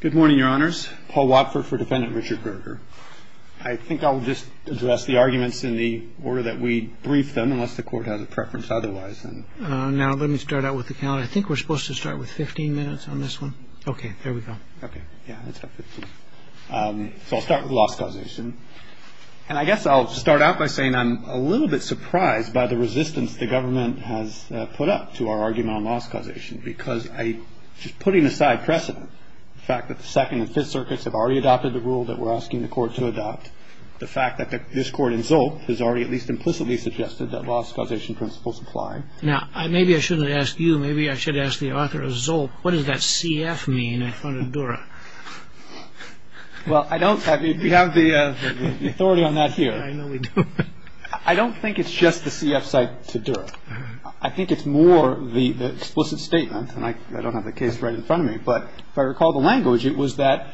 Good morning, your honors. Paul Watford for defendant Richard Berger. I think I'll just address the arguments in the order that we brief them unless the court has a preference otherwise. Now let me start out with the count. I think we're supposed to start with 15 minutes on this one. Okay, there we go. Okay, yeah, let's have 15. So I'll start with loss causation. And I guess I'll start out by saying I'm a little bit surprised by the resistance the government has put up to our argument on loss causation because I, just putting aside precedent, the fact that the second and fifth circuits have already adopted the rule that we're asking the court to adopt, the fact that this court in Zolp has already at least implicitly suggested that loss causation principles apply. Now, maybe I shouldn't ask you, maybe I should ask the author of Zolp, what does that CF mean in front of Dura? Well, I don't have, we have the authority on that here. I know we do. I don't think it's just the CF side to Dura. I think it's more the explicit statement, and I don't have the case right in front of me, but if I recall the language, it was that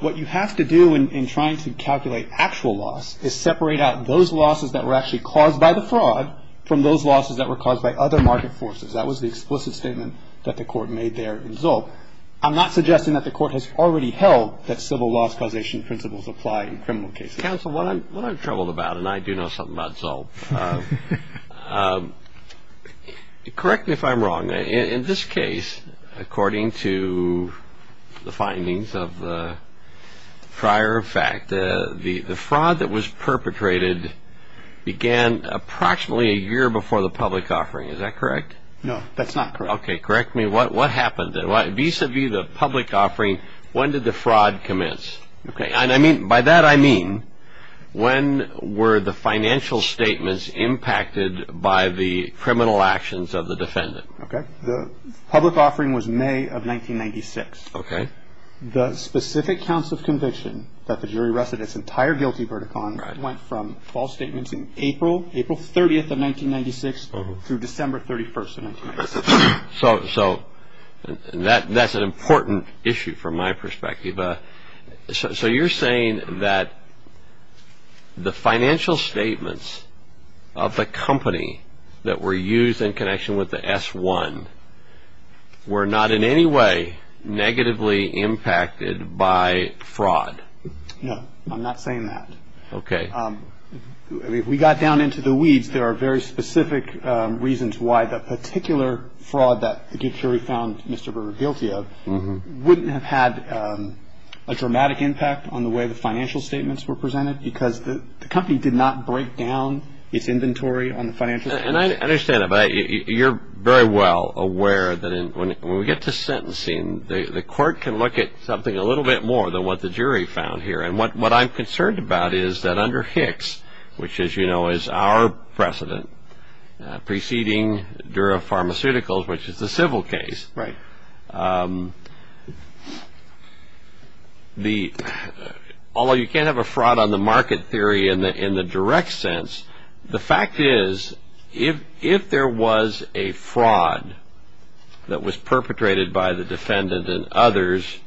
what you have to do in trying to calculate actual loss is separate out those losses that were actually caused by the fraud from those losses that were caused by other market forces. That was the explicit statement that the court made there in Zolp. I'm not suggesting that the court has already held that civil loss causation principles apply in criminal cases. Counsel, what I'm troubled about, and I do know something about Zolp, correct me if I'm wrong. In this case, according to the findings of the prior fact, the fraud that was perpetrated began approximately a year before the public offering. Is that correct? No, that's not correct. Okay, correct me. What happened then? Vis-a-vis the public offering, when did the fraud commence? By that I mean, when were the financial statements impacted by the criminal actions of the defendant? The public offering was May of 1996. Okay. The specific counts of conviction that the jury rested its entire guilty verdict on went from false statements in April, April 30th of 1996 through December 31st of 1996. So that's an important issue from my perspective. So you're saying that the financial statements of the company that were used in connection with the S-1 were not in any way negatively impacted by fraud? No, I'm not saying that. Okay. If we got down into the weeds, there are very specific reasons why the particular fraud that the jury found Mr. Berger guilty of wouldn't have had a dramatic impact on the way the financial statements were presented because the company did not break down its inventory on the financial statements. And I understand that, but you're very well aware that when we get to sentencing, the court can look at something a little bit more than what the jury found here. And what I'm concerned about is that under Hicks, which, as you know, is our precedent, preceding Dura Pharmaceuticals, which is the civil case, although you can't have a fraud on the market theory in the direct sense, the fact is if there was a fraud that was perpetrated by the defendant and others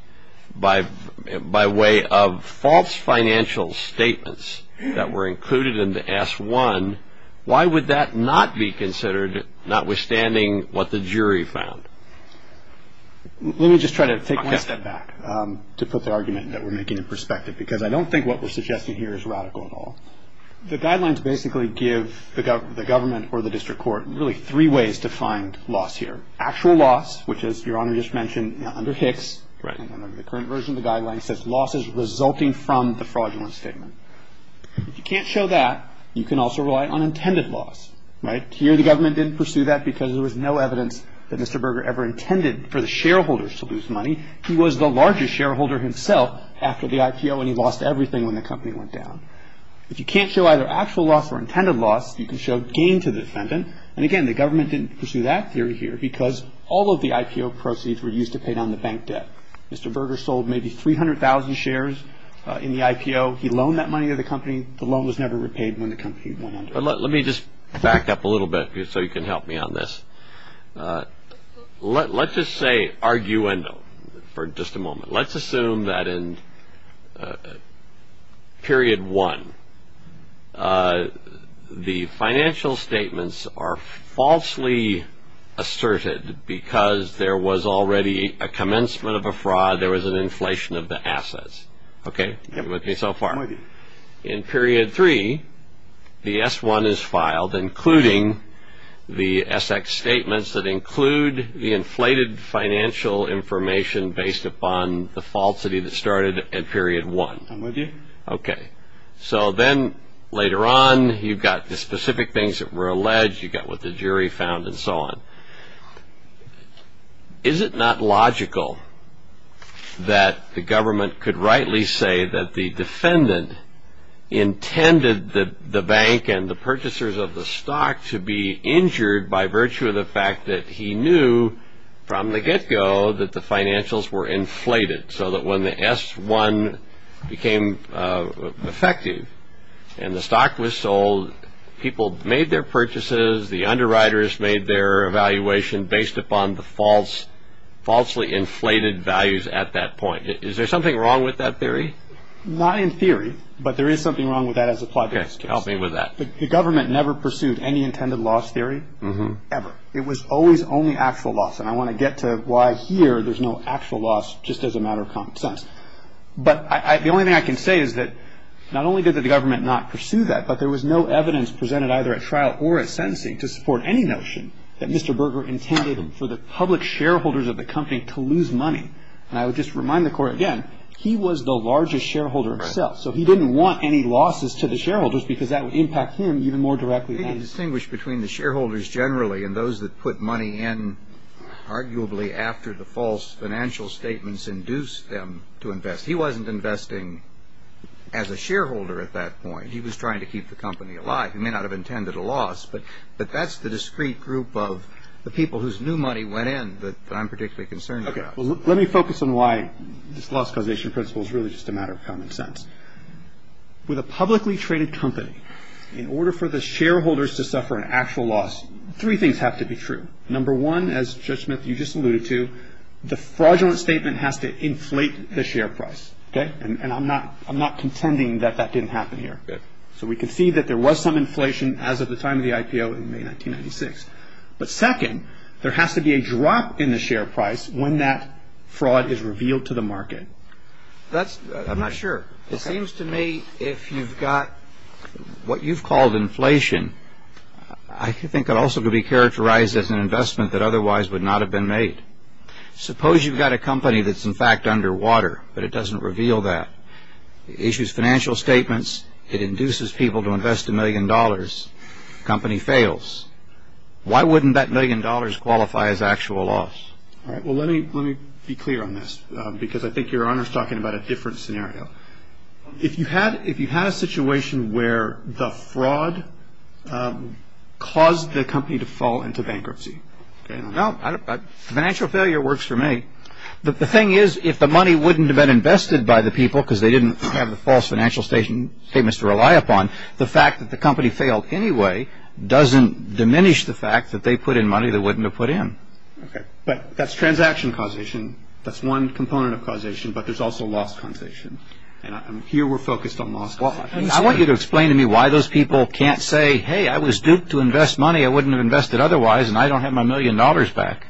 by way of false financial statements that were included in the S-1, why would that not be considered, notwithstanding what the jury found? Let me just try to take one step back to put the argument that we're making in perspective because I don't think what we're suggesting here is radical at all. The guidelines basically give the government or the district court really three ways to find loss here. Actual loss, which, as Your Honor just mentioned, under Hicks, under the current version of the guidelines says loss is resulting from the fraudulent statement. If you can't show that, you can also rely on intended loss, right? Here the government didn't pursue that because there was no evidence that Mr. Berger ever intended for the shareholders to lose money. He was the largest shareholder himself after the IPO, and he lost everything when the company went down. If you can't show either actual loss or intended loss, you can show gain to the defendant. And again, the government didn't pursue that theory here because all of the IPO proceeds were used to pay down the bank debt. Mr. Berger sold maybe 300,000 shares in the IPO. He loaned that money to the company. The loan was never repaid when the company went under. Let me just back up a little bit so you can help me on this. Let's just say arguendo for just a moment. Let's assume that in period one the financial statements are falsely asserted because there was already a commencement of a fraud. There was an inflation of the assets. Okay? Are you with me so far? In period three, the S-1 is filed, including the S-X statements that include the inflated financial information based upon the falsity that started in period one. I'm with you. Okay. So then later on you've got the specific things that were alleged. You've got what the jury found and so on. Is it not logical that the government could rightly say that the defendant intended the bank and the purchasers of the stock to be injured by virtue of the fact that he knew from the get-go that the financials were inflated so that when the S-1 became effective and the stock was sold, people made their purchases, the underwriters made their evaluation based upon the falsely inflated values at that point? Is there something wrong with that theory? Not in theory, but there is something wrong with that as applied to this case. Okay. Help me with that. The government never pursued any intended loss theory ever. It was always only actual loss, and I want to get to why here there's no actual loss just as a matter of common sense. But the only thing I can say is that not only did the government not pursue that, but there was no evidence presented either at trial or at sentencing to support any notion that Mr. Berger intended for the public shareholders of the company to lose money. And I would just remind the Court again, he was the largest shareholder himself, so he didn't want any losses to the shareholders because that would impact him even more directly. He distinguished between the shareholders generally and those that put money in arguably after the false financial statements induced them to invest. He wasn't investing as a shareholder at that point. He was trying to keep the company alive. He may not have intended a loss, but that's the discrete group of the people whose new money went in that I'm particularly concerned about. Let me focus on why this loss causation principle is really just a matter of common sense. With a publicly traded company, in order for the shareholders to suffer an actual loss, three things have to be true. Number one, as Judge Smith, you just alluded to, the fraudulent statement has to inflate the share price. And I'm not contending that that didn't happen here. So we can see that there was some inflation as of the time of the IPO in May 1996. But second, there has to be a drop in the share price when that fraud is revealed to the market. I'm not sure. It seems to me if you've got what you've called inflation, I think it also could be characterized as an investment that otherwise would not have been made. Suppose you've got a company that's in fact underwater, but it doesn't reveal that. It issues financial statements. It induces people to invest a million dollars. The company fails. Why wouldn't that million dollars qualify as actual loss? All right. Well, let me be clear on this because I think Your Honor is talking about a different scenario. If you had a situation where the fraud caused the company to fall into bankruptcy. No, financial failure works for me. The thing is if the money wouldn't have been invested by the people because they didn't have the false financial statements to rely upon, the fact that the company failed anyway doesn't diminish the fact that they put in money they wouldn't have put in. But that's transaction causation. That's one component of causation. But there's also loss causation. And here we're focused on loss causation. I want you to explain to me why those people can't say, hey, I was duped to invest money I wouldn't have invested otherwise, and I don't have my million dollars back.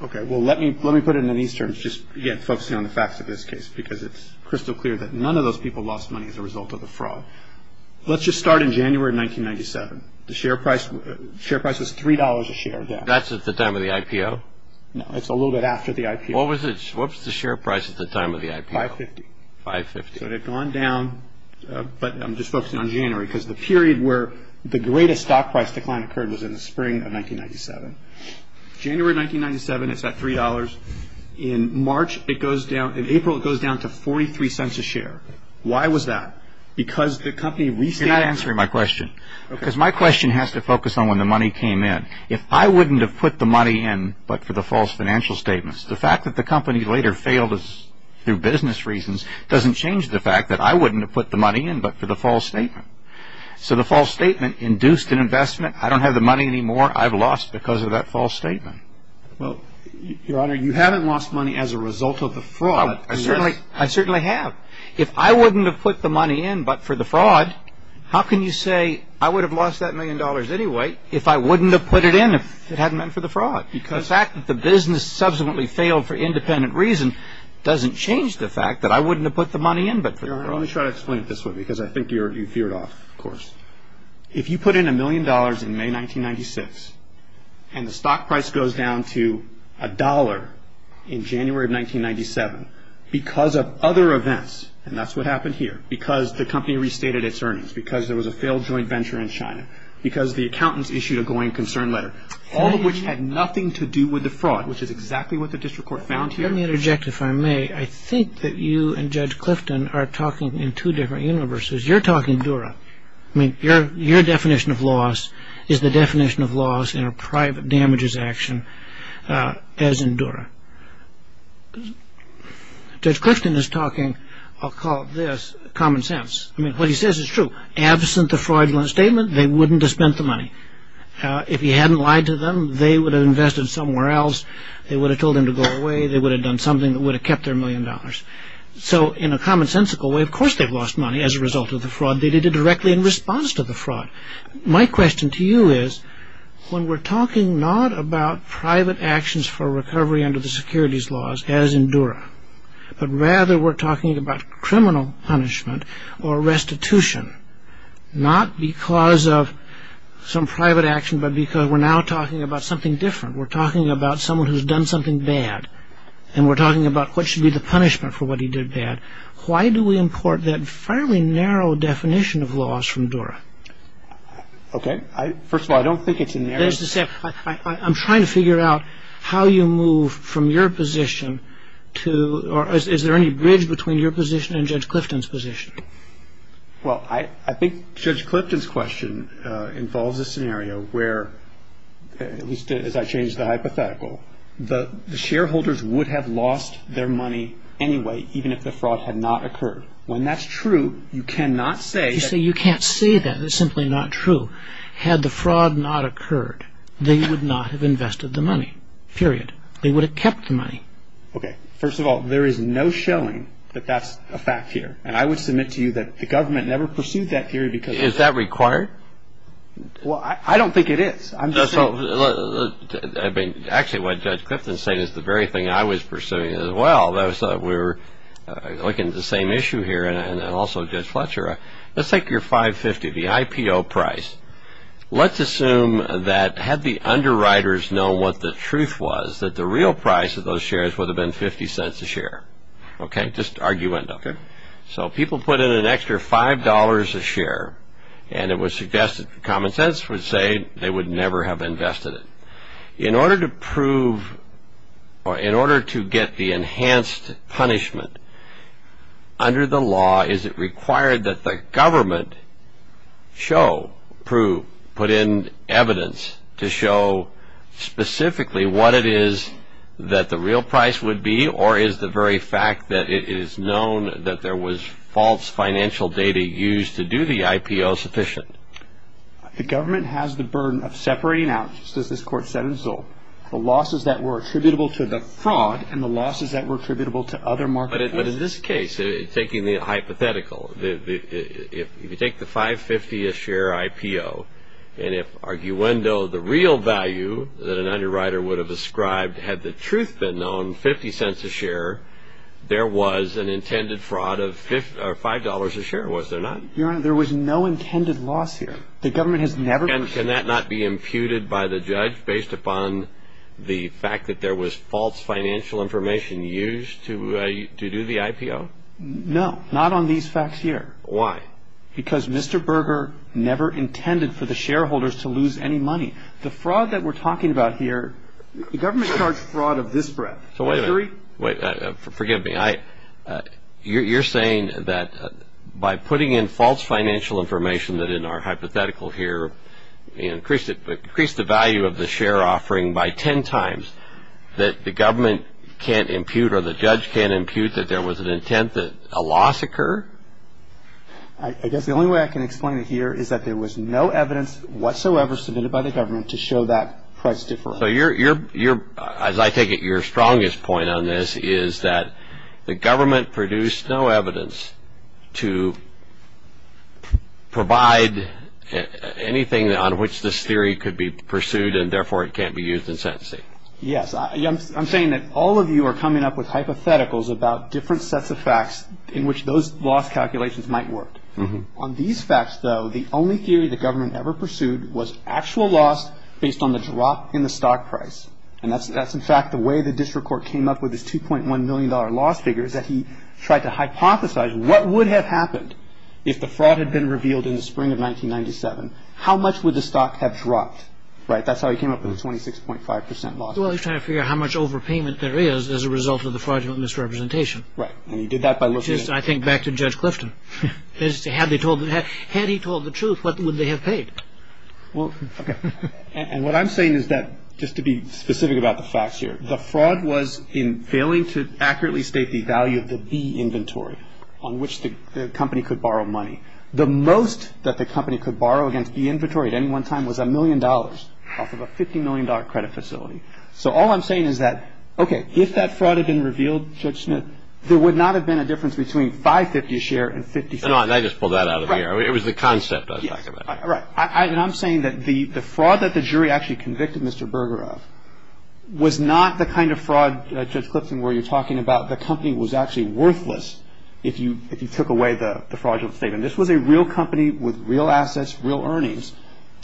Okay. Well, let me put it in these terms just again focusing on the facts of this case because it's crystal clear that none of those people lost money as a result of the fraud. Let's just start in January 1997. The share price was $3 a share. That's at the time of the IPO? No, it's a little bit after the IPO. What was the share price at the time of the IPO? $5.50. $5.50. So it had gone down, but I'm just focusing on January because the period where the greatest stock price decline occurred was in the spring of 1997. January 1997, it's at $3. In March, it goes down. In April, it goes down to $0.43 a share. Why was that? Because the company restated. You're not answering my question. Okay. Because my question has to focus on when the money came in. If I wouldn't have put the money in but for the false financial statements, the fact that the company later failed through business reasons doesn't change the fact that I wouldn't have put the money in but for the false statement. So the false statement induced an investment. I don't have the money anymore. I've lost because of that false statement. Well, Your Honor, you haven't lost money as a result of the fraud. I certainly have. If I wouldn't have put the money in but for the fraud, how can you say I would have lost that million dollars anyway if I wouldn't have put it in if it hadn't been for the fraud? The fact that the business subsequently failed for independent reason doesn't change the fact that I wouldn't have put the money in but for the fraud. Your Honor, let me try to explain it this way because I think you veered off, of course. If you put in a million dollars in May 1996 and the stock price goes down to a dollar in January of 1997 because of other events, and that's what happened here, because the company restated its earnings, because there was a failed joint venture in China, because the accountants issued a going concern letter, all of which had nothing to do with the fraud, which is exactly what the district court found here. Let me interject, if I may. I think that you and Judge Clifton are talking in two different universes. You're talking Dura. I mean, your definition of loss is the definition of loss in a private damages action as in Dura. Judge Clifton is talking, I'll call it this, common sense. I mean, what he says is true. Absent the fraudulent statement, they wouldn't have spent the money. If he hadn't lied to them, they would have invested somewhere else. They would have told him to go away. They would have done something that would have kept their million dollars. So in a commonsensical way, of course they've lost money as a result of the fraud. They did it directly in response to the fraud. My question to you is when we're talking not about private actions for recovery under the securities laws as in Dura, but rather we're talking about criminal punishment or restitution, not because of some private action but because we're now talking about something different. We're talking about someone who's done something bad, and we're talking about what should be the punishment for what he did bad. Why do we import that fairly narrow definition of loss from Dura? Okay. First of all, I don't think it's in there. I'm trying to figure out how you move from your position to or is there any bridge between your position and Judge Clifton's position? Well, I think Judge Clifton's question involves a scenario where, at least as I change the hypothetical, the shareholders would have lost their money anyway even if the fraud had not occurred. When that's true, you cannot say that. You say you can't say that. That's simply not true. Had the fraud not occurred, they would not have invested the money, period. They would have kept the money. Okay. First of all, there is no showing that that's a fact here, and I would submit to you that the government never pursued that theory because of that. Is that required? Well, I don't think it is. Actually, what Judge Clifton's saying is the very thing I was pursuing as well. We're looking at the same issue here, and also Judge Fletcher. Let's take your 550, the IPO price. Let's assume that had the underwriters known what the truth was, that the real price of those shares would have been 50 cents a share. Okay, just argument. Okay. So people put in an extra $5 a share, and it was suggested common sense would say they would never have invested it. In order to prove or in order to get the enhanced punishment under the law, is it required that the government show, prove, put in evidence to show specifically what it is that the real price would be, or is the very fact that it is known that there was false financial data used to do the IPO sufficient? The government has the burden of separating out, just as this Court said in Zoll, the losses that were attributable to the fraud and the losses that were attributable to other markets. But in this case, taking the hypothetical, if you take the 550 a share IPO, and if arguendo, the real value that an underwriter would have ascribed had the truth been known, 50 cents a share, there was an intended fraud of $5 a share, was there not? Your Honor, there was no intended loss here. The government has never. Can that not be imputed by the judge based upon the fact that there was false financial information used to do the IPO? No, not on these facts here. Why? Because Mr. Berger never intended for the shareholders to lose any money. The fraud that we're talking about here, the government charged fraud of this breadth. Wait a minute. Forgive me. You're saying that by putting in false financial information that in our hypothetical here, increased the value of the share offering by 10 times, that the government can't impute or the judge can't impute that there was an intent that a loss occur? I guess the only way I can explain it here is that there was no evidence whatsoever submitted by the government to show that price difference. So your, as I take it, your strongest point on this is that the government produced no evidence to provide anything on which this theory could be pursued and therefore it can't be used in sentencing. Yes. I'm saying that all of you are coming up with hypotheticals about different sets of facts in which those loss calculations might work. On these facts, though, the only theory the government ever pursued was actual loss based on the drop in the stock price. And that's, in fact, the way the district court came up with this $2.1 million loss figure, is that he tried to hypothesize what would have happened if the fraud had been revealed in the spring of 1997. How much would the stock have dropped? Right? That's how he came up with the 26.5 percent loss. Well, he's trying to figure out how much overpayment there is as a result of the fraudulent misrepresentation. Right. And he did that by looking at... Which is, I think, back to Judge Clifton. Had he told the truth, what would they have paid? Well, okay. And what I'm saying is that, just to be specific about the facts here, the fraud was in failing to accurately state the value of the B inventory on which the company could borrow money. The most that the company could borrow against the inventory at any one time was a million dollars off of a $50 million credit facility. So all I'm saying is that, okay, if that fraud had been revealed, Judge Smith, there would not have been a difference between $5.50 a share and $50. No, no, I just pulled that out of the air. Right. It was the concept I was talking about. Right. And I'm saying that the fraud that the jury actually convicted Mr. Berger of was not the kind of fraud, Judge Clifton, where you're talking about the company was actually worthless if you took away the fraudulent statement. This was a real company with real assets, real earnings.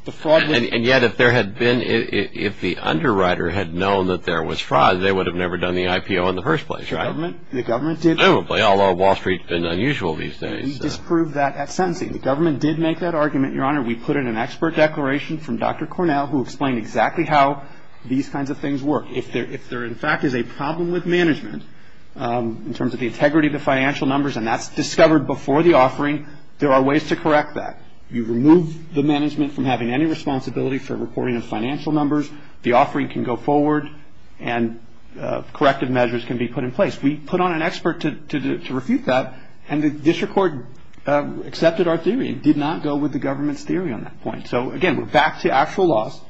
And yet, if there had been, if the underwriter had known that there was fraud, they would have never done the IPO in the first place, right? The government did. Probably, although Wall Street's been unusual these days. We disproved that at sentencing. The government did make that argument, Your Honor. We put in an expert declaration from Dr. Cornell who explained exactly how these kinds of things work. If there, in fact, is a problem with management in terms of the integrity of the financial numbers, and that's discovered before the offering, there are ways to correct that. You remove the management from having any responsibility for reporting of financial numbers, the offering can go forward, and corrective measures can be put in place. We put on an expert to refute that, and the district court accepted our theory. It did not go with the government's theory on that point. So, again, we're back to actual loss.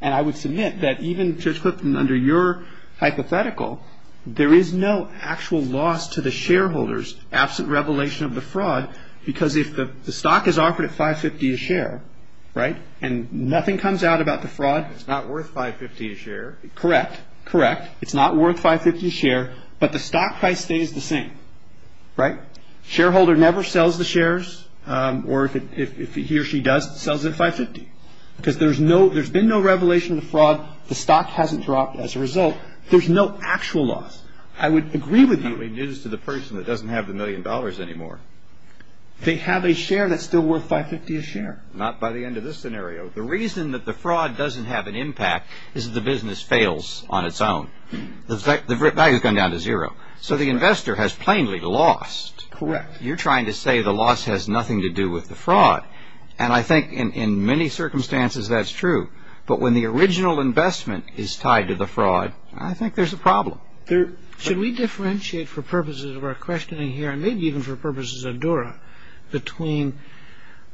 And I would submit that even, Judge Clifton, under your hypothetical, there is no actual loss to the shareholders absent revelation of the fraud because if the stock is offered at $5.50 a share, right, and nothing comes out about the fraud. It's not worth $5.50 a share. Correct, correct. It's not worth $5.50 a share, but the stock price stays the same, right? Shareholder never sells the shares or if he or she does, sells it at $5.50 because there's been no revelation of the fraud. The stock hasn't dropped as a result. There's no actual loss. I would agree with you. That would be news to the person that doesn't have the million dollars anymore. They have a share that's still worth $5.50 a share. Not by the end of this scenario. The reason that the fraud doesn't have an impact is that the business fails on its own. The value has gone down to zero. So the investor has plainly lost. Correct. You're trying to say the loss has nothing to do with the fraud, and I think in many circumstances that's true. But when the original investment is tied to the fraud, I think there's a problem. Should we differentiate for purposes of our questioning here, and maybe even for purposes of Dura, between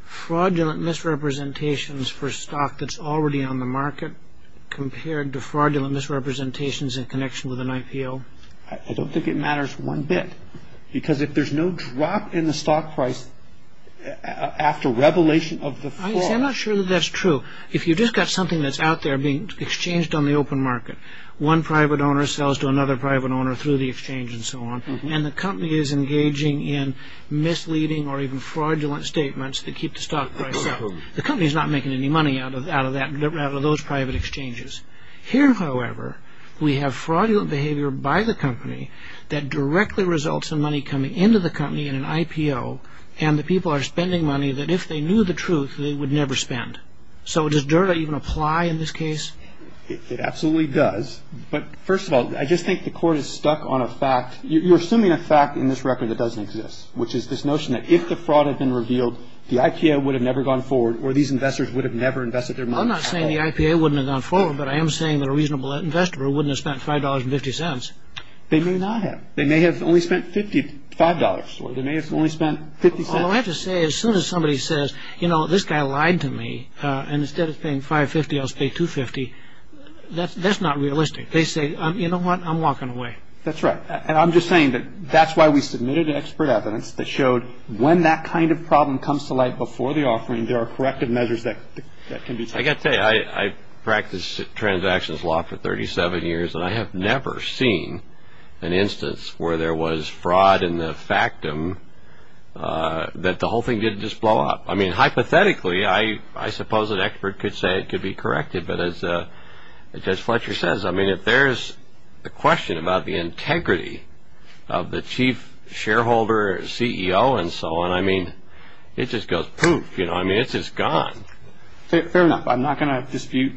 fraudulent misrepresentations for stock that's already on the market compared to fraudulent misrepresentations in connection with an IPO? I don't think it matters one bit because if there's no drop in the stock price after revelation of the fraud. I'm not sure that that's true. If you've just got something that's out there being exchanged on the open market, one private owner sells to another private owner through the exchange and so on, and the company is engaging in misleading or even fraudulent statements that keep the stock price up, the company's not making any money out of those private exchanges. Here, however, we have fraudulent behavior by the company that directly results in money coming into the company in an IPO, and the people are spending money that if they knew the truth, they would never spend. So does Dura even apply in this case? It absolutely does. But first of all, I just think the court is stuck on a fact. You're assuming a fact in this record that doesn't exist, which is this notion that if the fraud had been revealed, the IPO would have never gone forward, or these investors would have never invested their money. I'm not saying the IPO wouldn't have gone forward, but I am saying that a reasonable investor wouldn't have spent $5.50. They may not have. They may have only spent $5. Or they may have only spent $0.50. All I have to say, as soon as somebody says, you know, this guy lied to me, and instead of paying $5.50, I'll pay $2.50, that's not realistic. They say, you know what, I'm walking away. That's right. And I'm just saying that that's why we submitted expert evidence that showed when that kind of problem comes to light before the offering, there are corrective measures that can be taken. I've got to tell you, I've practiced transactions law for 37 years, and I have never seen an instance where there was fraud in the factum that the whole thing didn't just blow up. I mean, hypothetically, I suppose an expert could say it could be corrected, but as Judge Fletcher says, I mean, if there's a question about the integrity of the chief shareholder, CEO, and so on, I mean, it just goes poof. You know, I mean, it's just gone. Fair enough. I'm not going to dispute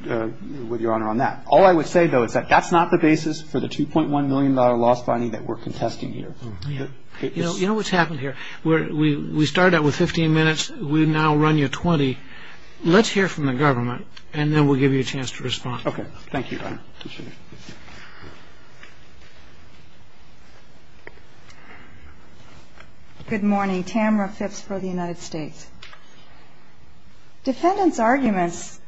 with Your Honor on that. All I would say, though, is that that's not the basis for the $2.1 million loss bonding that we're contesting here. You know what's happened here? We started out with 15 minutes. We now run you 20. Let's hear from the government, and then we'll give you a chance to respond. Okay. Thank you, Your Honor. Good morning. Tamara Phipps for the United States. Defendants' arguments,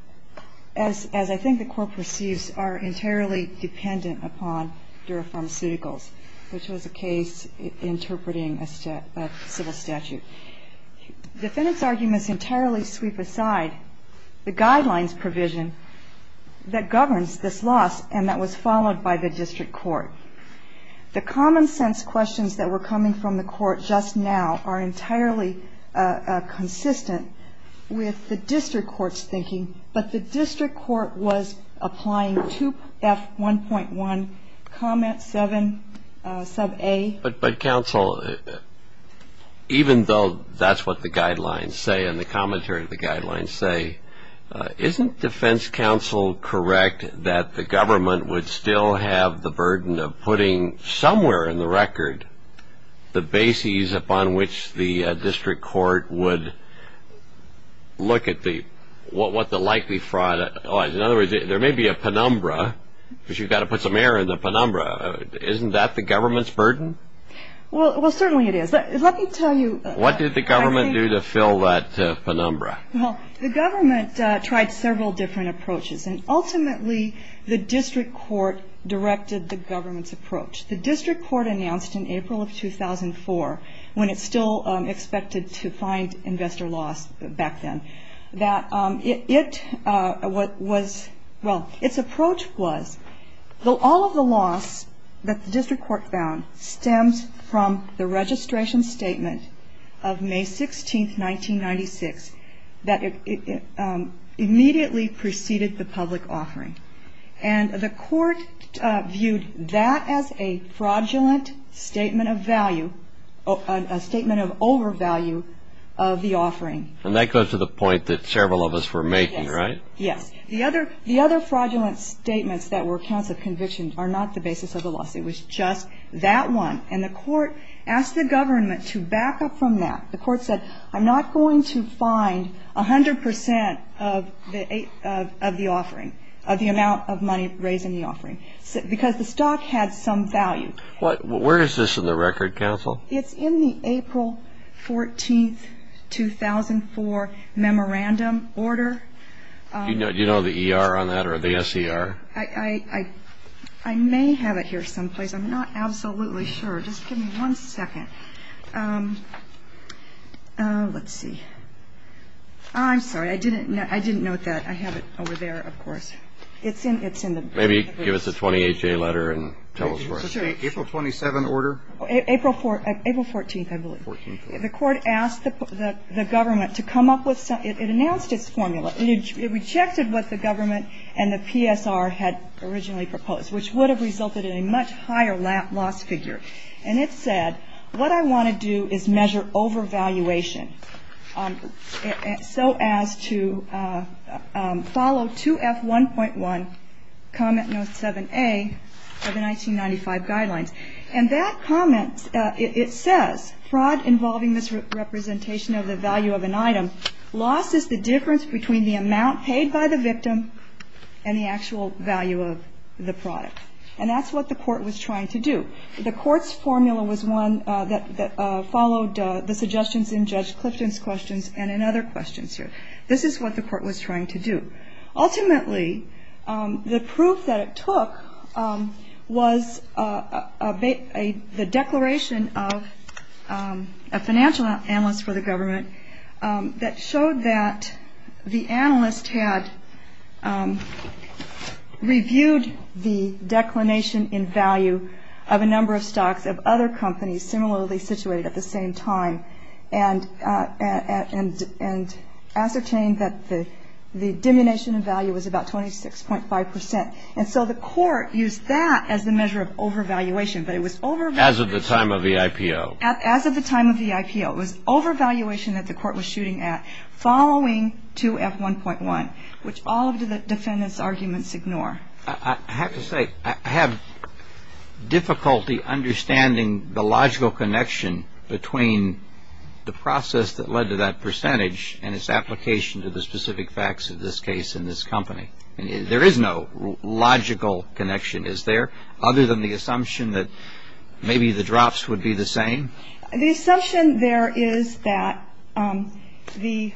as I think the Court perceives, are entirely dependent upon Dura Pharmaceuticals, which was a case interpreting a civil statute. Defendants' arguments entirely sweep aside the guidelines provision that governs this loss and that was followed by the district court. The common sense questions that were coming from the court just now are entirely consistent with the district court's thinking, but the district court was applying 2F1.1, comment 7, sub A. But, counsel, even though that's what the guidelines say and the commentary of the guidelines say, isn't defense counsel correct that the government would still have the burden of putting somewhere in the record the bases upon which the district court would look at what the likely fraud was? In other words, there may be a penumbra, but you've got to put some air in the penumbra. Isn't that the government's burden? Well, certainly it is. Let me tell you. What did the government do to fill that penumbra? Well, the government tried several different approaches and ultimately the district court directed the government's approach. The district court announced in April of 2004, when it still expected to find investor loss back then, that it was, well, its approach was all of the loss that the district court found stemmed from the registration statement of May 16, 1996, that it immediately preceded the public offering. And the court viewed that as a fraudulent statement of value, a statement of overvalue of the offering. And that goes to the point that several of us were making, right? Yes. The other fraudulent statements that were counts of conviction are not the basis of the loss. It was just that one. And the court asked the government to back up from that. The court said, I'm not going to find 100 percent of the offering, of the amount of money raised in the offering, because the stock had some value. Where is this in the record, counsel? It's in the April 14, 2004 memorandum order. Do you know the ER on that or the SER? I may have it here someplace. I'm not absolutely sure. Just give me one second. Let's see. I'm sorry. I didn't note that. I have it over there, of course. It's in the ER. Maybe give us a 20HA letter and tell us where it is. April 27 order? April 14, I believe. The court asked the government to come up with something. It announced its formula. It rejected what the government and the PSR had originally proposed, which would have resulted in a much higher loss figure. And it said, what I want to do is measure overvaluation so as to follow 2F1.1, comment note 7A of the 1995 guidelines. And that comment, it says, fraud involving misrepresentation of the value of an item, loss is the difference between the amount paid by the victim and the actual value of the product. And that's what the court was trying to do. The court's formula was one that followed the suggestions in Judge Clifton's questions and in other questions here. This is what the court was trying to do. Ultimately, the proof that it took was the declaration of a financial analyst for the government that showed that the analyst had reviewed the declination in value of a number of stocks of other companies at the same time and ascertained that the diminution in value was about 26.5%. And so the court used that as the measure of overvaluation. But it was overvaluation. As of the time of the IPO. As of the time of the IPO. It was overvaluation that the court was shooting at following 2F1.1, which all of the defendant's arguments ignore. I have to say, I have difficulty understanding the logical connection between the process that led to that percentage and its application to the specific facts of this case and this company. There is no logical connection, is there, other than the assumption that maybe the drops would be the same? The assumption there is that the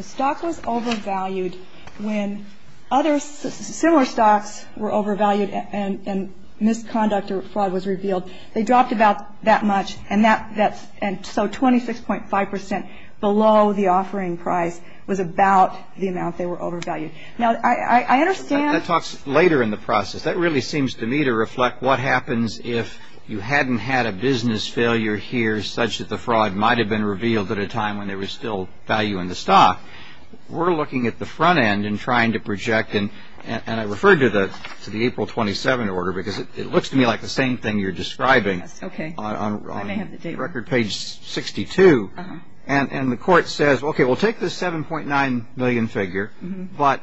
stock was overvalued when other similar stocks were overvalued and misconduct or fraud was revealed. They dropped about that much. And so 26.5% below the offering price was about the amount they were overvalued. Now, I understand. That talks later in the process. That really seems to me to reflect what happens if you hadn't had a business failure here such that the fraud might have been revealed at a time when there was still value in the stock. We're looking at the front end and trying to project. And I refer to the April 27 order because it looks to me like the same thing you're describing on record page 62. And the court says, okay, we'll take this 7.9 million figure. But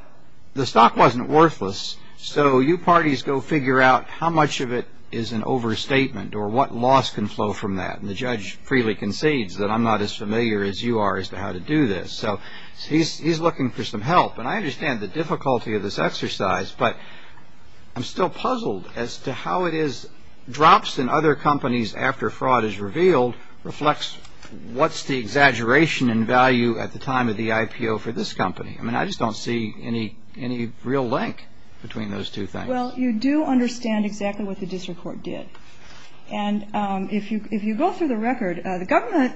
the stock wasn't worthless. So you parties go figure out how much of it is an overstatement or what loss can flow from that. And the judge freely concedes that I'm not as familiar as you are as to how to do this. So he's looking for some help. And I understand the difficulty of this exercise. But I'm still puzzled as to how it is drops in other companies after fraud is revealed reflects what's the exaggeration in value at the time of the IPO for this company. I mean, I just don't see any real link between those two things. Well, you do understand exactly what the district court did. And if you go through the record, the government,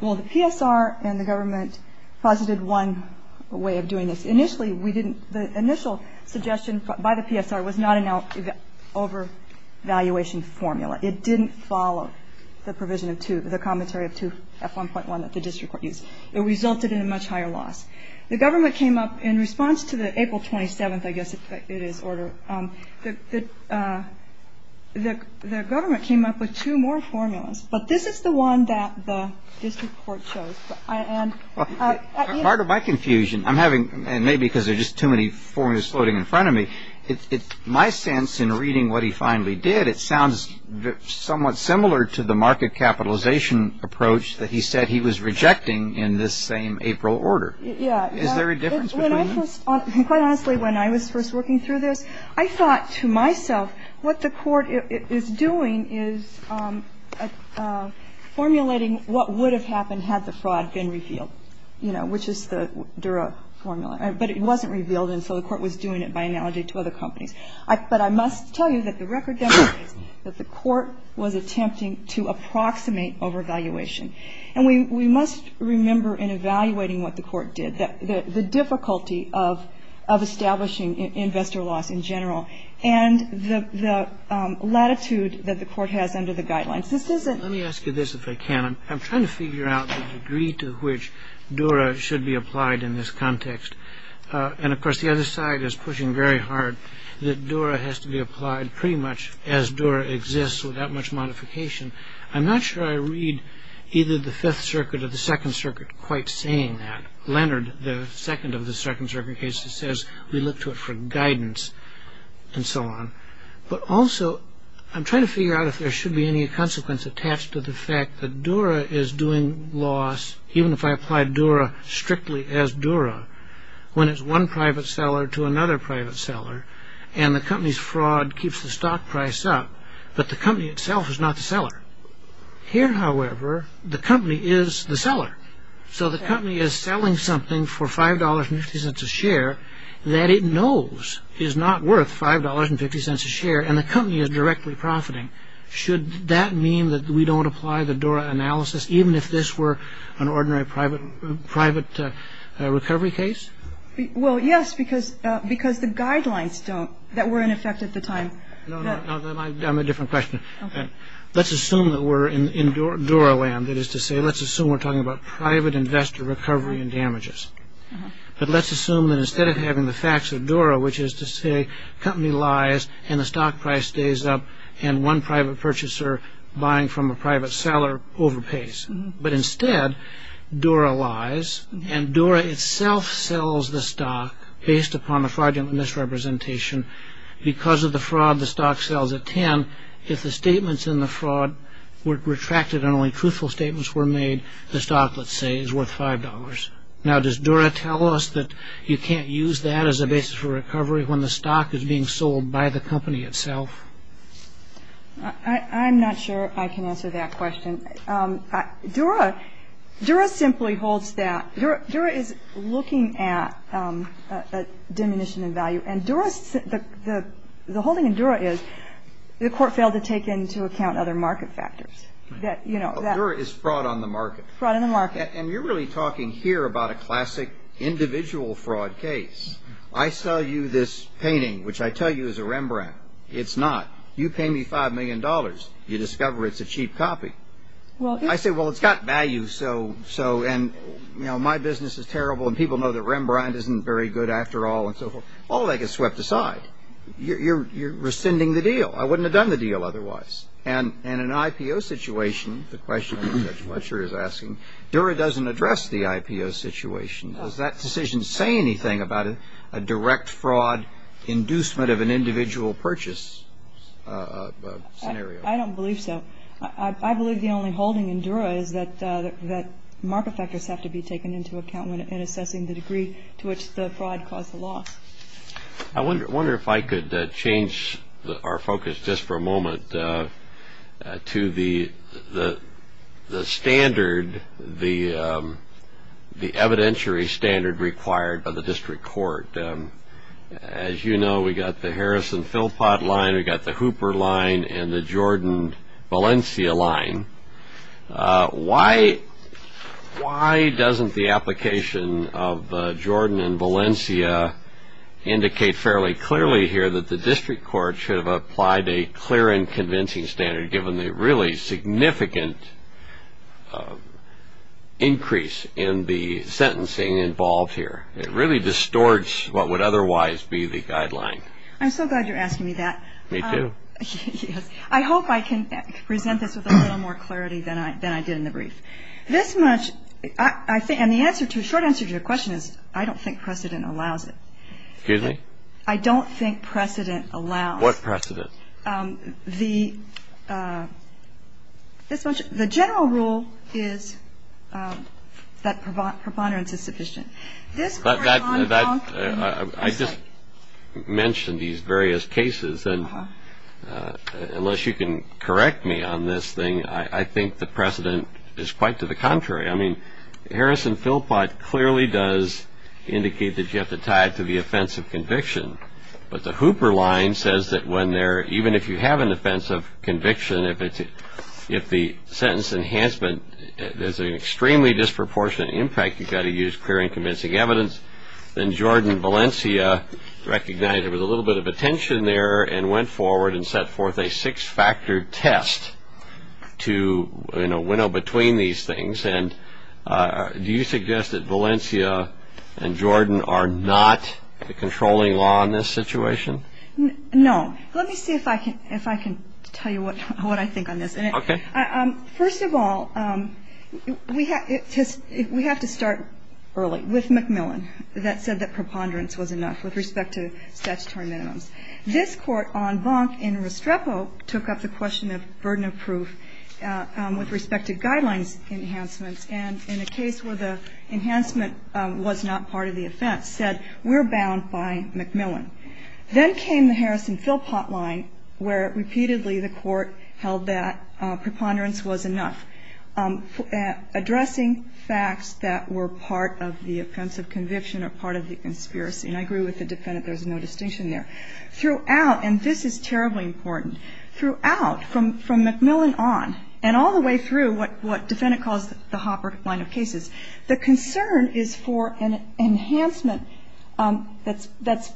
well, the PSR and the government posited one way of doing this. Initially, we didn't, the initial suggestion by the PSR was not an overvaluation formula. It didn't follow the provision of two, the commentary of 2F1.1 that the district court used. It resulted in a much higher loss. The government came up in response to the April 27th, I guess it is, order. The government came up with two more formulas. But this is the one that the district court chose. Part of my confusion, I'm having, and maybe because there are just too many formulas floating in front of me, my sense in reading what he finally did, it sounds somewhat similar to the market capitalization approach that he said he was rejecting in this same April order. Is there a difference between them? Quite honestly, when I was first working through this, I thought to myself, what the court is doing is formulating what would have happened had the fraud been revealed, you know, which is the Dura formula. But it wasn't revealed, and so the court was doing it by analogy to other companies. But I must tell you that the record demonstrates that the court was attempting to approximate overvaluation. And we must remember in evaluating what the court did, the difficulty of establishing investor loss in general and the latitude that the court has under the guidelines. This isn't ---- Let me ask you this if I can. I'm trying to figure out the degree to which Dura should be applied in this context. And, of course, the other side is pushing very hard. The Dura has to be applied pretty much as Dura exists without much modification. I'm not sure I read either the Fifth Circuit or the Second Circuit quite saying that. Leonard, the second of the Second Circuit cases, says we look to it for guidance and so on. But also I'm trying to figure out if there should be any consequence attached to the fact that Dura is doing loss, even if I apply Dura strictly as Dura, when it's one private seller to another private seller, and the company's fraud keeps the stock price up, but the company itself is not the seller. Here, however, the company is the seller. So the company is selling something for $5.50 a share that it knows is not worth $5.50 a share, and the company is directly profiting. Should that mean that we don't apply the Dura analysis, even if this were an ordinary private recovery case? Well, yes, because the guidelines don't, that were in effect at the time. No, no, I'm a different question. Let's assume that we're in Dura land. That is to say, let's assume we're talking about private investor recovery and damages. But let's assume that instead of having the facts of Dura, which is to say company lies and the stock price stays up, and one private purchaser buying from a private seller overpays. But instead, Dura lies, and Dura itself sells the stock based upon a fraudulent misrepresentation. Because of the fraud, the stock sells at $10. If the statements in the fraud were retracted and only truthful statements were made, the stock, let's say, is worth $5.00. Now, does Dura tell us that you can't use that as a basis for recovery when the stock is being sold by the company itself? I'm not sure I can answer that question. Dura simply holds that. Dura is looking at a diminution in value. And the holding in Dura is the court failed to take into account other market factors. Dura is fraud on the market. Fraud on the market. And you're really talking here about a classic individual fraud case. I sell you this painting, which I tell you is a Rembrandt. It's not. You pay me $5 million. You discover it's a cheap copy. I say, well, it's got value, and my business is terrible, and people know that Rembrandt isn't very good after all, and so forth. All of that gets swept aside. You're rescinding the deal. I wouldn't have done the deal otherwise. And in an IPO situation, the question I'm not sure is asking, Dura doesn't address the IPO situation. Does that decision say anything about a direct fraud inducement of an individual purchase scenario? I don't believe so. I believe the only holding in Dura is that market factors have to be taken into account when assessing the degree to which the fraud caused the loss. I wonder if I could change our focus just for a moment to the standard, the evidentiary standard required by the district court. As you know, we've got the Harrison-Philpott line. We've got the Hooper line and the Jordan-Valencia line. Why doesn't the application of Jordan and Valencia indicate fairly clearly here that the district court should have applied a clear and convincing standard, given the really significant increase in the sentencing involved here? It really distorts what would otherwise be the guideline. I'm so glad you're asking me that. Me too. I hope I can present this with a little more clarity than I did in the brief. The short answer to your question is I don't think precedent allows it. Excuse me? I don't think precedent allows it. What precedent? The general rule is that preponderance is sufficient. I just mentioned these various cases, and unless you can correct me on this thing, I think the precedent is quite to the contrary. I mean Harrison-Philpott clearly does indicate that you have to tie it to the offense of conviction, but the Hooper line says that even if you have an offense of conviction, if the sentence enhancement has an extremely disproportionate impact, you've got to use clear and convincing evidence. Then Jordan and Valencia recognized there was a little bit of a tension there and went forward and set forth a six-factor test to winnow between these things. And do you suggest that Valencia and Jordan are not controlling law in this situation? No. Let me see if I can tell you what I think on this. Okay. First of all, we have to start early with McMillan. That said that preponderance was enough with respect to statutory minimums. This Court on Bonk in Restrepo took up the question of burden of proof with respect to guidelines enhancements, and in a case where the enhancement was not part of the offense, said we're bound by McMillan. Then came the Harris and Philpott line where repeatedly the Court held that preponderance was enough, addressing facts that were part of the offense of conviction or part of the conspiracy. And I agree with the defendant. There's no distinction there. Throughout, and this is terribly important, throughout, from McMillan on and all the way through what the defendant calls the Hooper line of cases, the concern is for an enhancement that's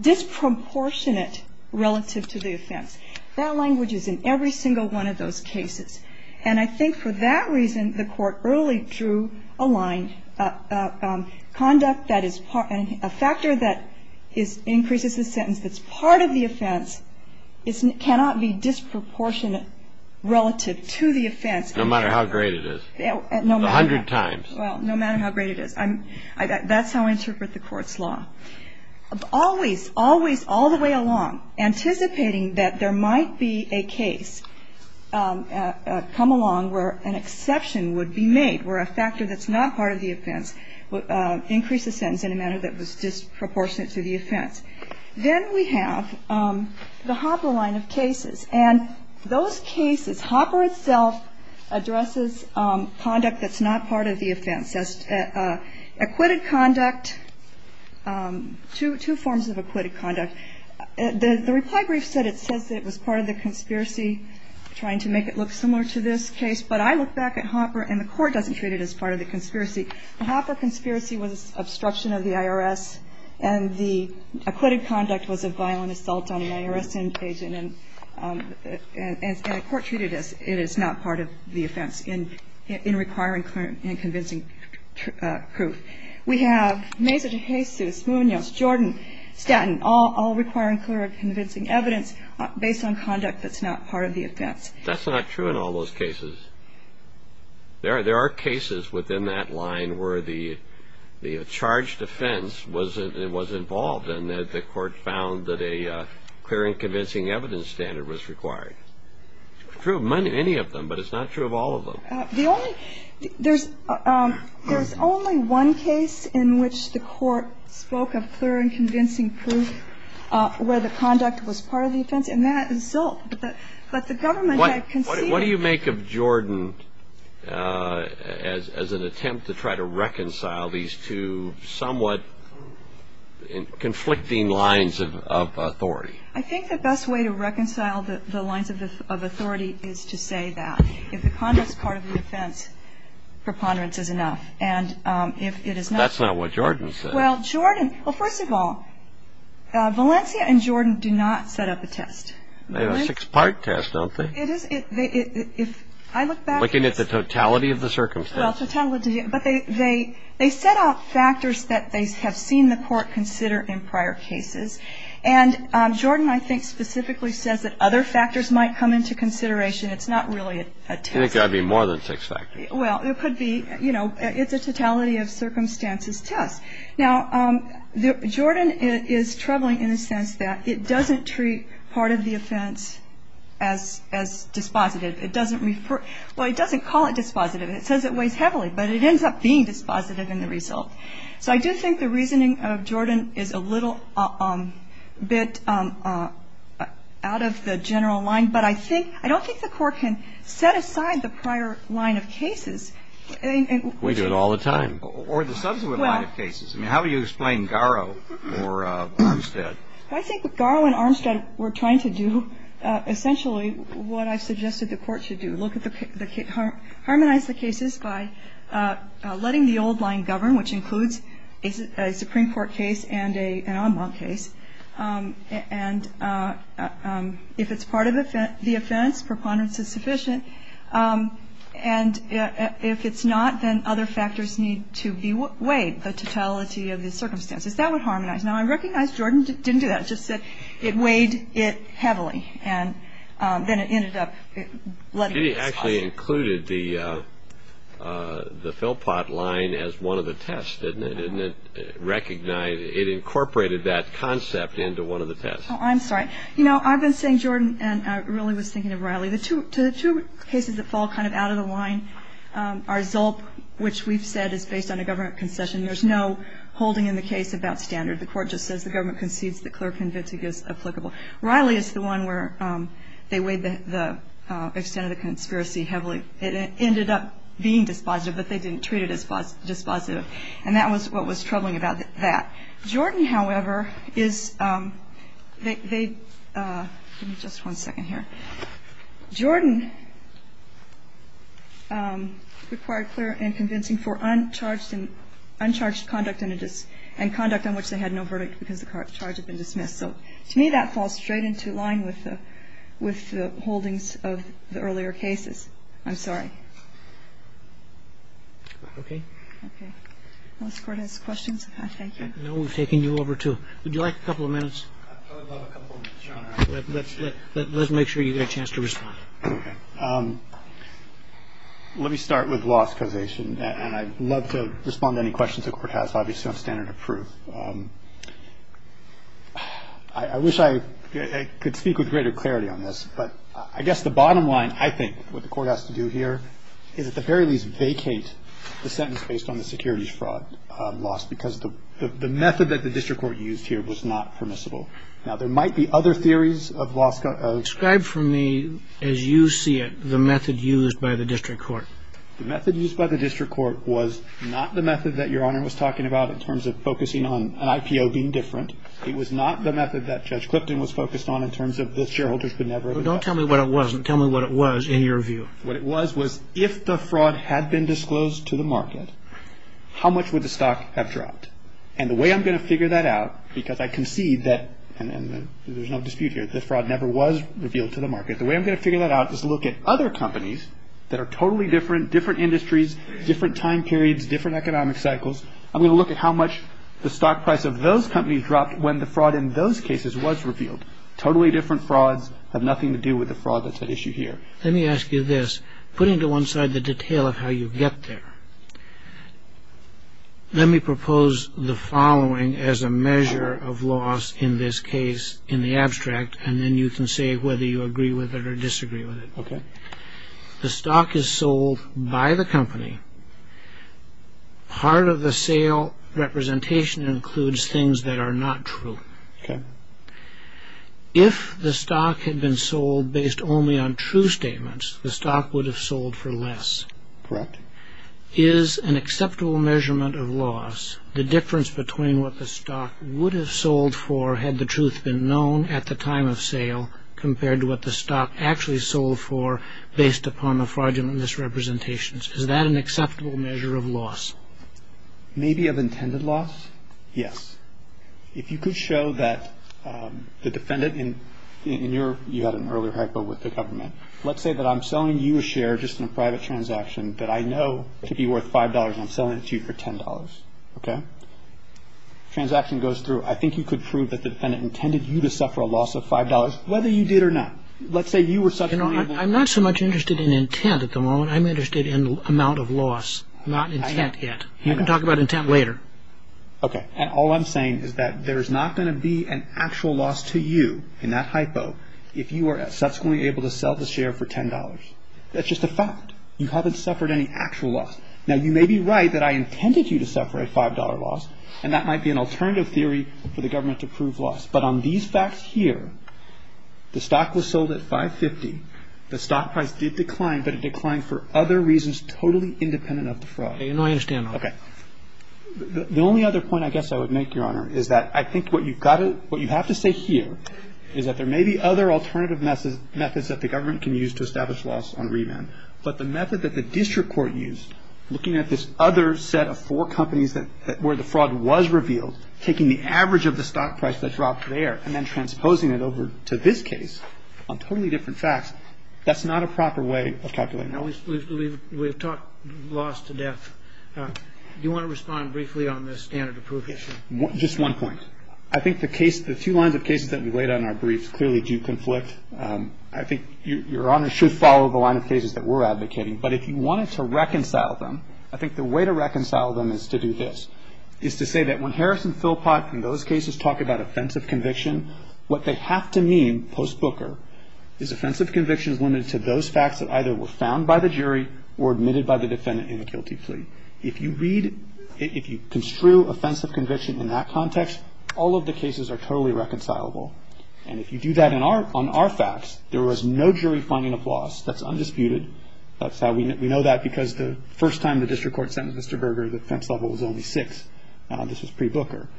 disproportionate relative to the offense. That language is in every single one of those cases. And I think for that reason, the Court early drew a line, conduct that is part, a factor that increases the sentence that's part of the offense cannot be disproportionate relative to the offense. No matter how great. A hundred times. Well, no matter how great it is. That's how I interpret the Court's law. Always, always, all the way along, anticipating that there might be a case come along where an exception would be made, where a factor that's not part of the offense would increase the sentence in a manner that was disproportionate to the offense. Then we have the Hopper line of cases. And those cases, Hopper itself addresses conduct that's not part of the offense. That's acquitted conduct, two forms of acquitted conduct. The reply brief said it was part of the conspiracy, trying to make it look similar to this case. But I look back at Hopper, and the Court doesn't treat it as part of the conspiracy. The Hopper conspiracy was obstruction of the IRS, and the acquitted conduct was a violent assault on an IRS agent. And the Court treated it as it is not part of the offense in requiring clear and convincing proof. We have Mesa de Jesus, Munoz, Jordan, Stanton, all requiring clear and convincing evidence based on conduct that's not part of the offense. That's not true in all those cases. There are cases within that line where the charged offense was involved and that the Court found that a clear and convincing evidence standard was required. It's true of many of them, but it's not true of all of them. There's only one case in which the Court spoke of clear and convincing proof where the conduct was part of the offense, and that is Zolt. But the government had conceded... What do you make of Jordan as an attempt to try to reconcile these two somewhat conflicting lines of authority? I think the best way to reconcile the lines of authority is to say that if the conduct is part of the offense, preponderance is enough. And if it is not... That's not what Jordan said. Well, Jordan... Well, first of all, Valencia and Jordan do not set up a test. They have a six-part test, don't they? It is. If I look back... Looking at the totality of the circumstance. Well, totality... But they set out factors that they have seen the Court consider in prior cases. And Jordan, I think, specifically says that other factors might come into consideration. It's not really a test. It's got to be more than six factors. Well, it could be... You know, it's a totality-of-circumstances test. Now, Jordan is troubling in the sense that it doesn't treat part of the offense as dispositive. It doesn't refer... Well, it doesn't call it dispositive. It says it weighs heavily, but it ends up being dispositive in the result. So I do think the reasoning of Jordan is a little bit out of the general line, but I don't think the Court can set aside the prior line of cases. We do it all the time. Or the subsequent line of cases. Well... I mean, how do you explain Garrow or Armstead? I think what Garrow and Armstead were trying to do, essentially, what I suggested the Court should do, look at the... harmonize the cases by letting the old line govern, which includes a Supreme Court case and an en banc case. And if it's part of the offense, preponderance is sufficient. And if it's not, then other factors need to be weighed. The totality of the circumstances. That would harmonize. Now, I recognize Jordan didn't do that. It just said it weighed it heavily, and then it ended up letting... She actually included the Philpott line as one of the tests, didn't it? And it recognized... it incorporated that concept into one of the tests. Oh, I'm sorry. You know, I've been saying, Jordan, and I really was thinking of Riley, the two cases that fall kind of out of the line are Zulp, which we've said is based on a government concession. There's no holding in the case about standard. The Court just says the government concedes the clerk convict is applicable. Riley is the one where they weighed the extent of the conspiracy heavily. It ended up being dispositive, but they didn't treat it as dispositive. And that was what was troubling about that. Jordan, however, is... They... Give me just one second here. Jordan required clear and convincing for uncharged and uncharged conduct and conduct on which they had no verdict because the charge had been dismissed. So to me, that falls straight into line with the holdings of the earlier cases. I'm sorry. Okay. Okay. Unless the Court has questions, I thank you. No, we've taken you over, too. Would you like a couple of minutes? I would love a couple of minutes, Your Honor. Let's make sure you get a chance to respond. Okay. Let me start with loss causation, and I'd love to respond to any questions the Court has, obviously, on standard of proof. I wish I could speak with greater clarity on this, but I guess the bottom line, I think, what the Court has to do here, is at the very least vacate the sentence based on the securities fraud loss because the method that the district court used here was not permissible. Now, there might be other theories of loss of... Describe for me, as you see it, the method used by the district court. The method used by the district court was not the method that Your Honor was talking about in terms of focusing on an IPO being different. It was not the method that Judge Clipton was focused on in terms of the shareholders... Don't tell me what it was. Tell me what it was in your view. What it was was if the fraud had been disclosed to the market, how much would the stock have dropped? And the way I'm going to figure that out, because I concede that, and there's no dispute here, the fraud never was revealed to the market. The way I'm going to figure that out is look at other companies that are totally different, different industries, different time periods, different economic cycles. I'm going to look at how much the stock price of those companies dropped when the fraud in those cases was revealed. Totally different frauds have nothing to do with the fraud that's at issue here. Let me ask you this. Put into one side the detail of how you get there. Let me propose the following as a measure of loss in this case in the abstract, and then you can say whether you agree with it or disagree with it. The stock is sold by the company. Part of the sale representation includes things that are not true. If the stock had been sold based only on true statements, the stock would have sold for less. Correct. Is an acceptable measurement of loss the difference between what the stock would have sold for had the truth been known at the time of sale compared to what the stock actually sold for based upon the fraudulent misrepresentations? Is that an acceptable measure of loss? Maybe of intended loss? Yes. If you could show that the defendant in your... You had an earlier hypo with the government. Let's say that I'm selling you a share just in a private transaction that I know to be worth $5, and I'm selling it to you for $10. Transaction goes through. I think you could prove that the defendant intended you to suffer a loss of $5, whether you did or not. Let's say you were such a... I'm not so much interested in intent at the moment. I'm interested in amount of loss, not intent yet. You can talk about intent later. Okay. And all I'm saying is that there's not going to be an actual loss to you in that hypo if you are subsequently able to sell the share for $10. That's just a fact. You haven't suffered any actual loss. Now, you may be right that I intended you to suffer a $5 loss, and that might be an alternative theory for the government to prove loss. But on these facts here, the stock was sold at $5.50. The stock price did decline, but it declined for other reasons totally independent of the fraud. I understand. Okay. The only other point I guess I would make, Your Honor, is that I think what you have to say here is that there may be other alternative methods that the government can use to establish loss on remand. But the method that the district court used, looking at this other set of four companies where the fraud was revealed, taking the average of the stock price that dropped there and then transposing it over to this case on totally different facts, that's not a proper way of calculating. We've talked loss to death. Do you want to respond briefly on this standard of proof issue? Just one point. I think the two lines of cases that we laid out in our briefs clearly do conflict. I think Your Honor should follow the line of cases that we're advocating. But if you wanted to reconcile them, I think the way to reconcile them is to do this, is to say that when Harris and Philpott in those cases talk about offensive conviction, what they have to mean post-Booker is offensive conviction is limited to those facts that either were found by the jury or admitted by the defendant in a guilty plea. If you read, if you construe offensive conviction in that context, all of the cases are totally reconcilable. And if you do that on our facts, there was no jury finding of loss. That's undisputed. We know that because the first time the district court sentenced Mr. Berger, the defense level was only six. This was pre-Booker.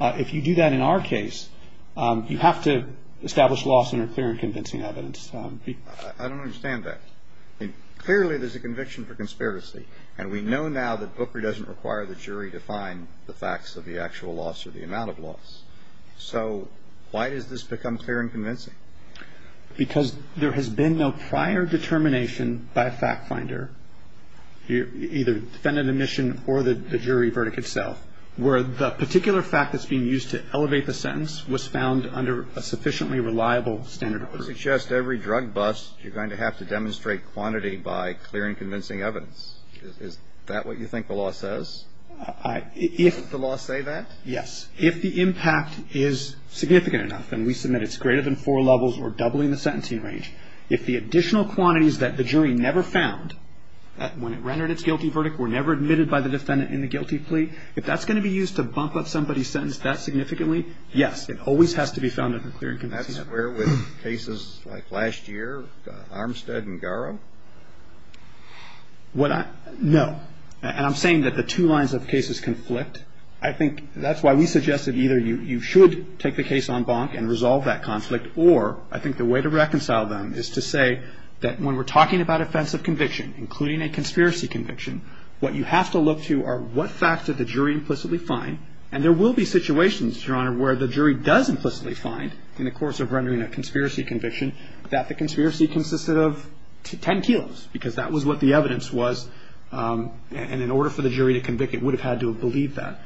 If you do that in our case, you have to establish loss in a clear and convincing evidence. I don't understand that. Clearly there's a conviction for conspiracy. And we know now that Booker doesn't require the jury to find the facts of the actual loss or the amount of loss. So why does this become clear and convincing? Because there has been no prior determination by a fact finder, either defendant admission or the jury verdict itself, where the particular fact that's being used to elevate the sentence was found under a sufficiently reliable standard of proof. If you suggest every drug bust, you're going to have to demonstrate quantity by clear and convincing evidence. Is that what you think the law says? Does the law say that? Yes. If the impact is significant enough, and we submit it's greater than four levels or doubling the sentencing range, if the additional quantities that the jury never found when it rendered its guilty verdict were never admitted by the defendant in the guilty plea, if that's going to be used to bump up somebody's sentence that significantly, yes, it always has to be found under clear and convincing evidence. And that's where with cases like last year, Armstead and Garrow? No. And I'm saying that the two lines of cases conflict. I think that's why we suggest that either you should take the case on bonk and resolve that conflict, or I think the way to reconcile them is to say that when we're talking about offensive conviction, including a conspiracy conviction, what you have to look to are what facts did the jury implicitly find, and there will be situations, Your Honor, where the jury does implicitly find in the course of rendering a conspiracy conviction that the conspiracy consisted of 10 kilos, because that was what the evidence was, and in order for the jury to convict it would have had to have believed that.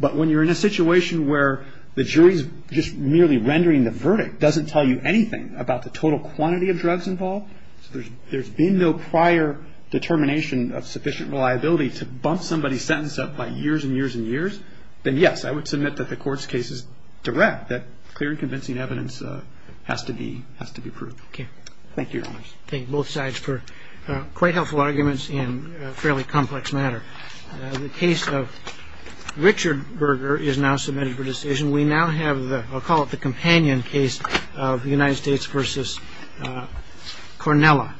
But when you're in a situation where the jury's just merely rendering the verdict doesn't tell you anything about the total quantity of drugs involved, there's been no prior determination of sufficient reliability to bump somebody's sentence up by years and years and years, then yes, I would submit that the court's case is direct, that clear and convincing evidence has to be proved. Thank you, Your Honor. Thank you both sides for quite helpful arguments in a fairly complex matter. The case of Richard Berger is now submitted for decision. We now have the, I'll call it the companion case of the United States v. Cornella.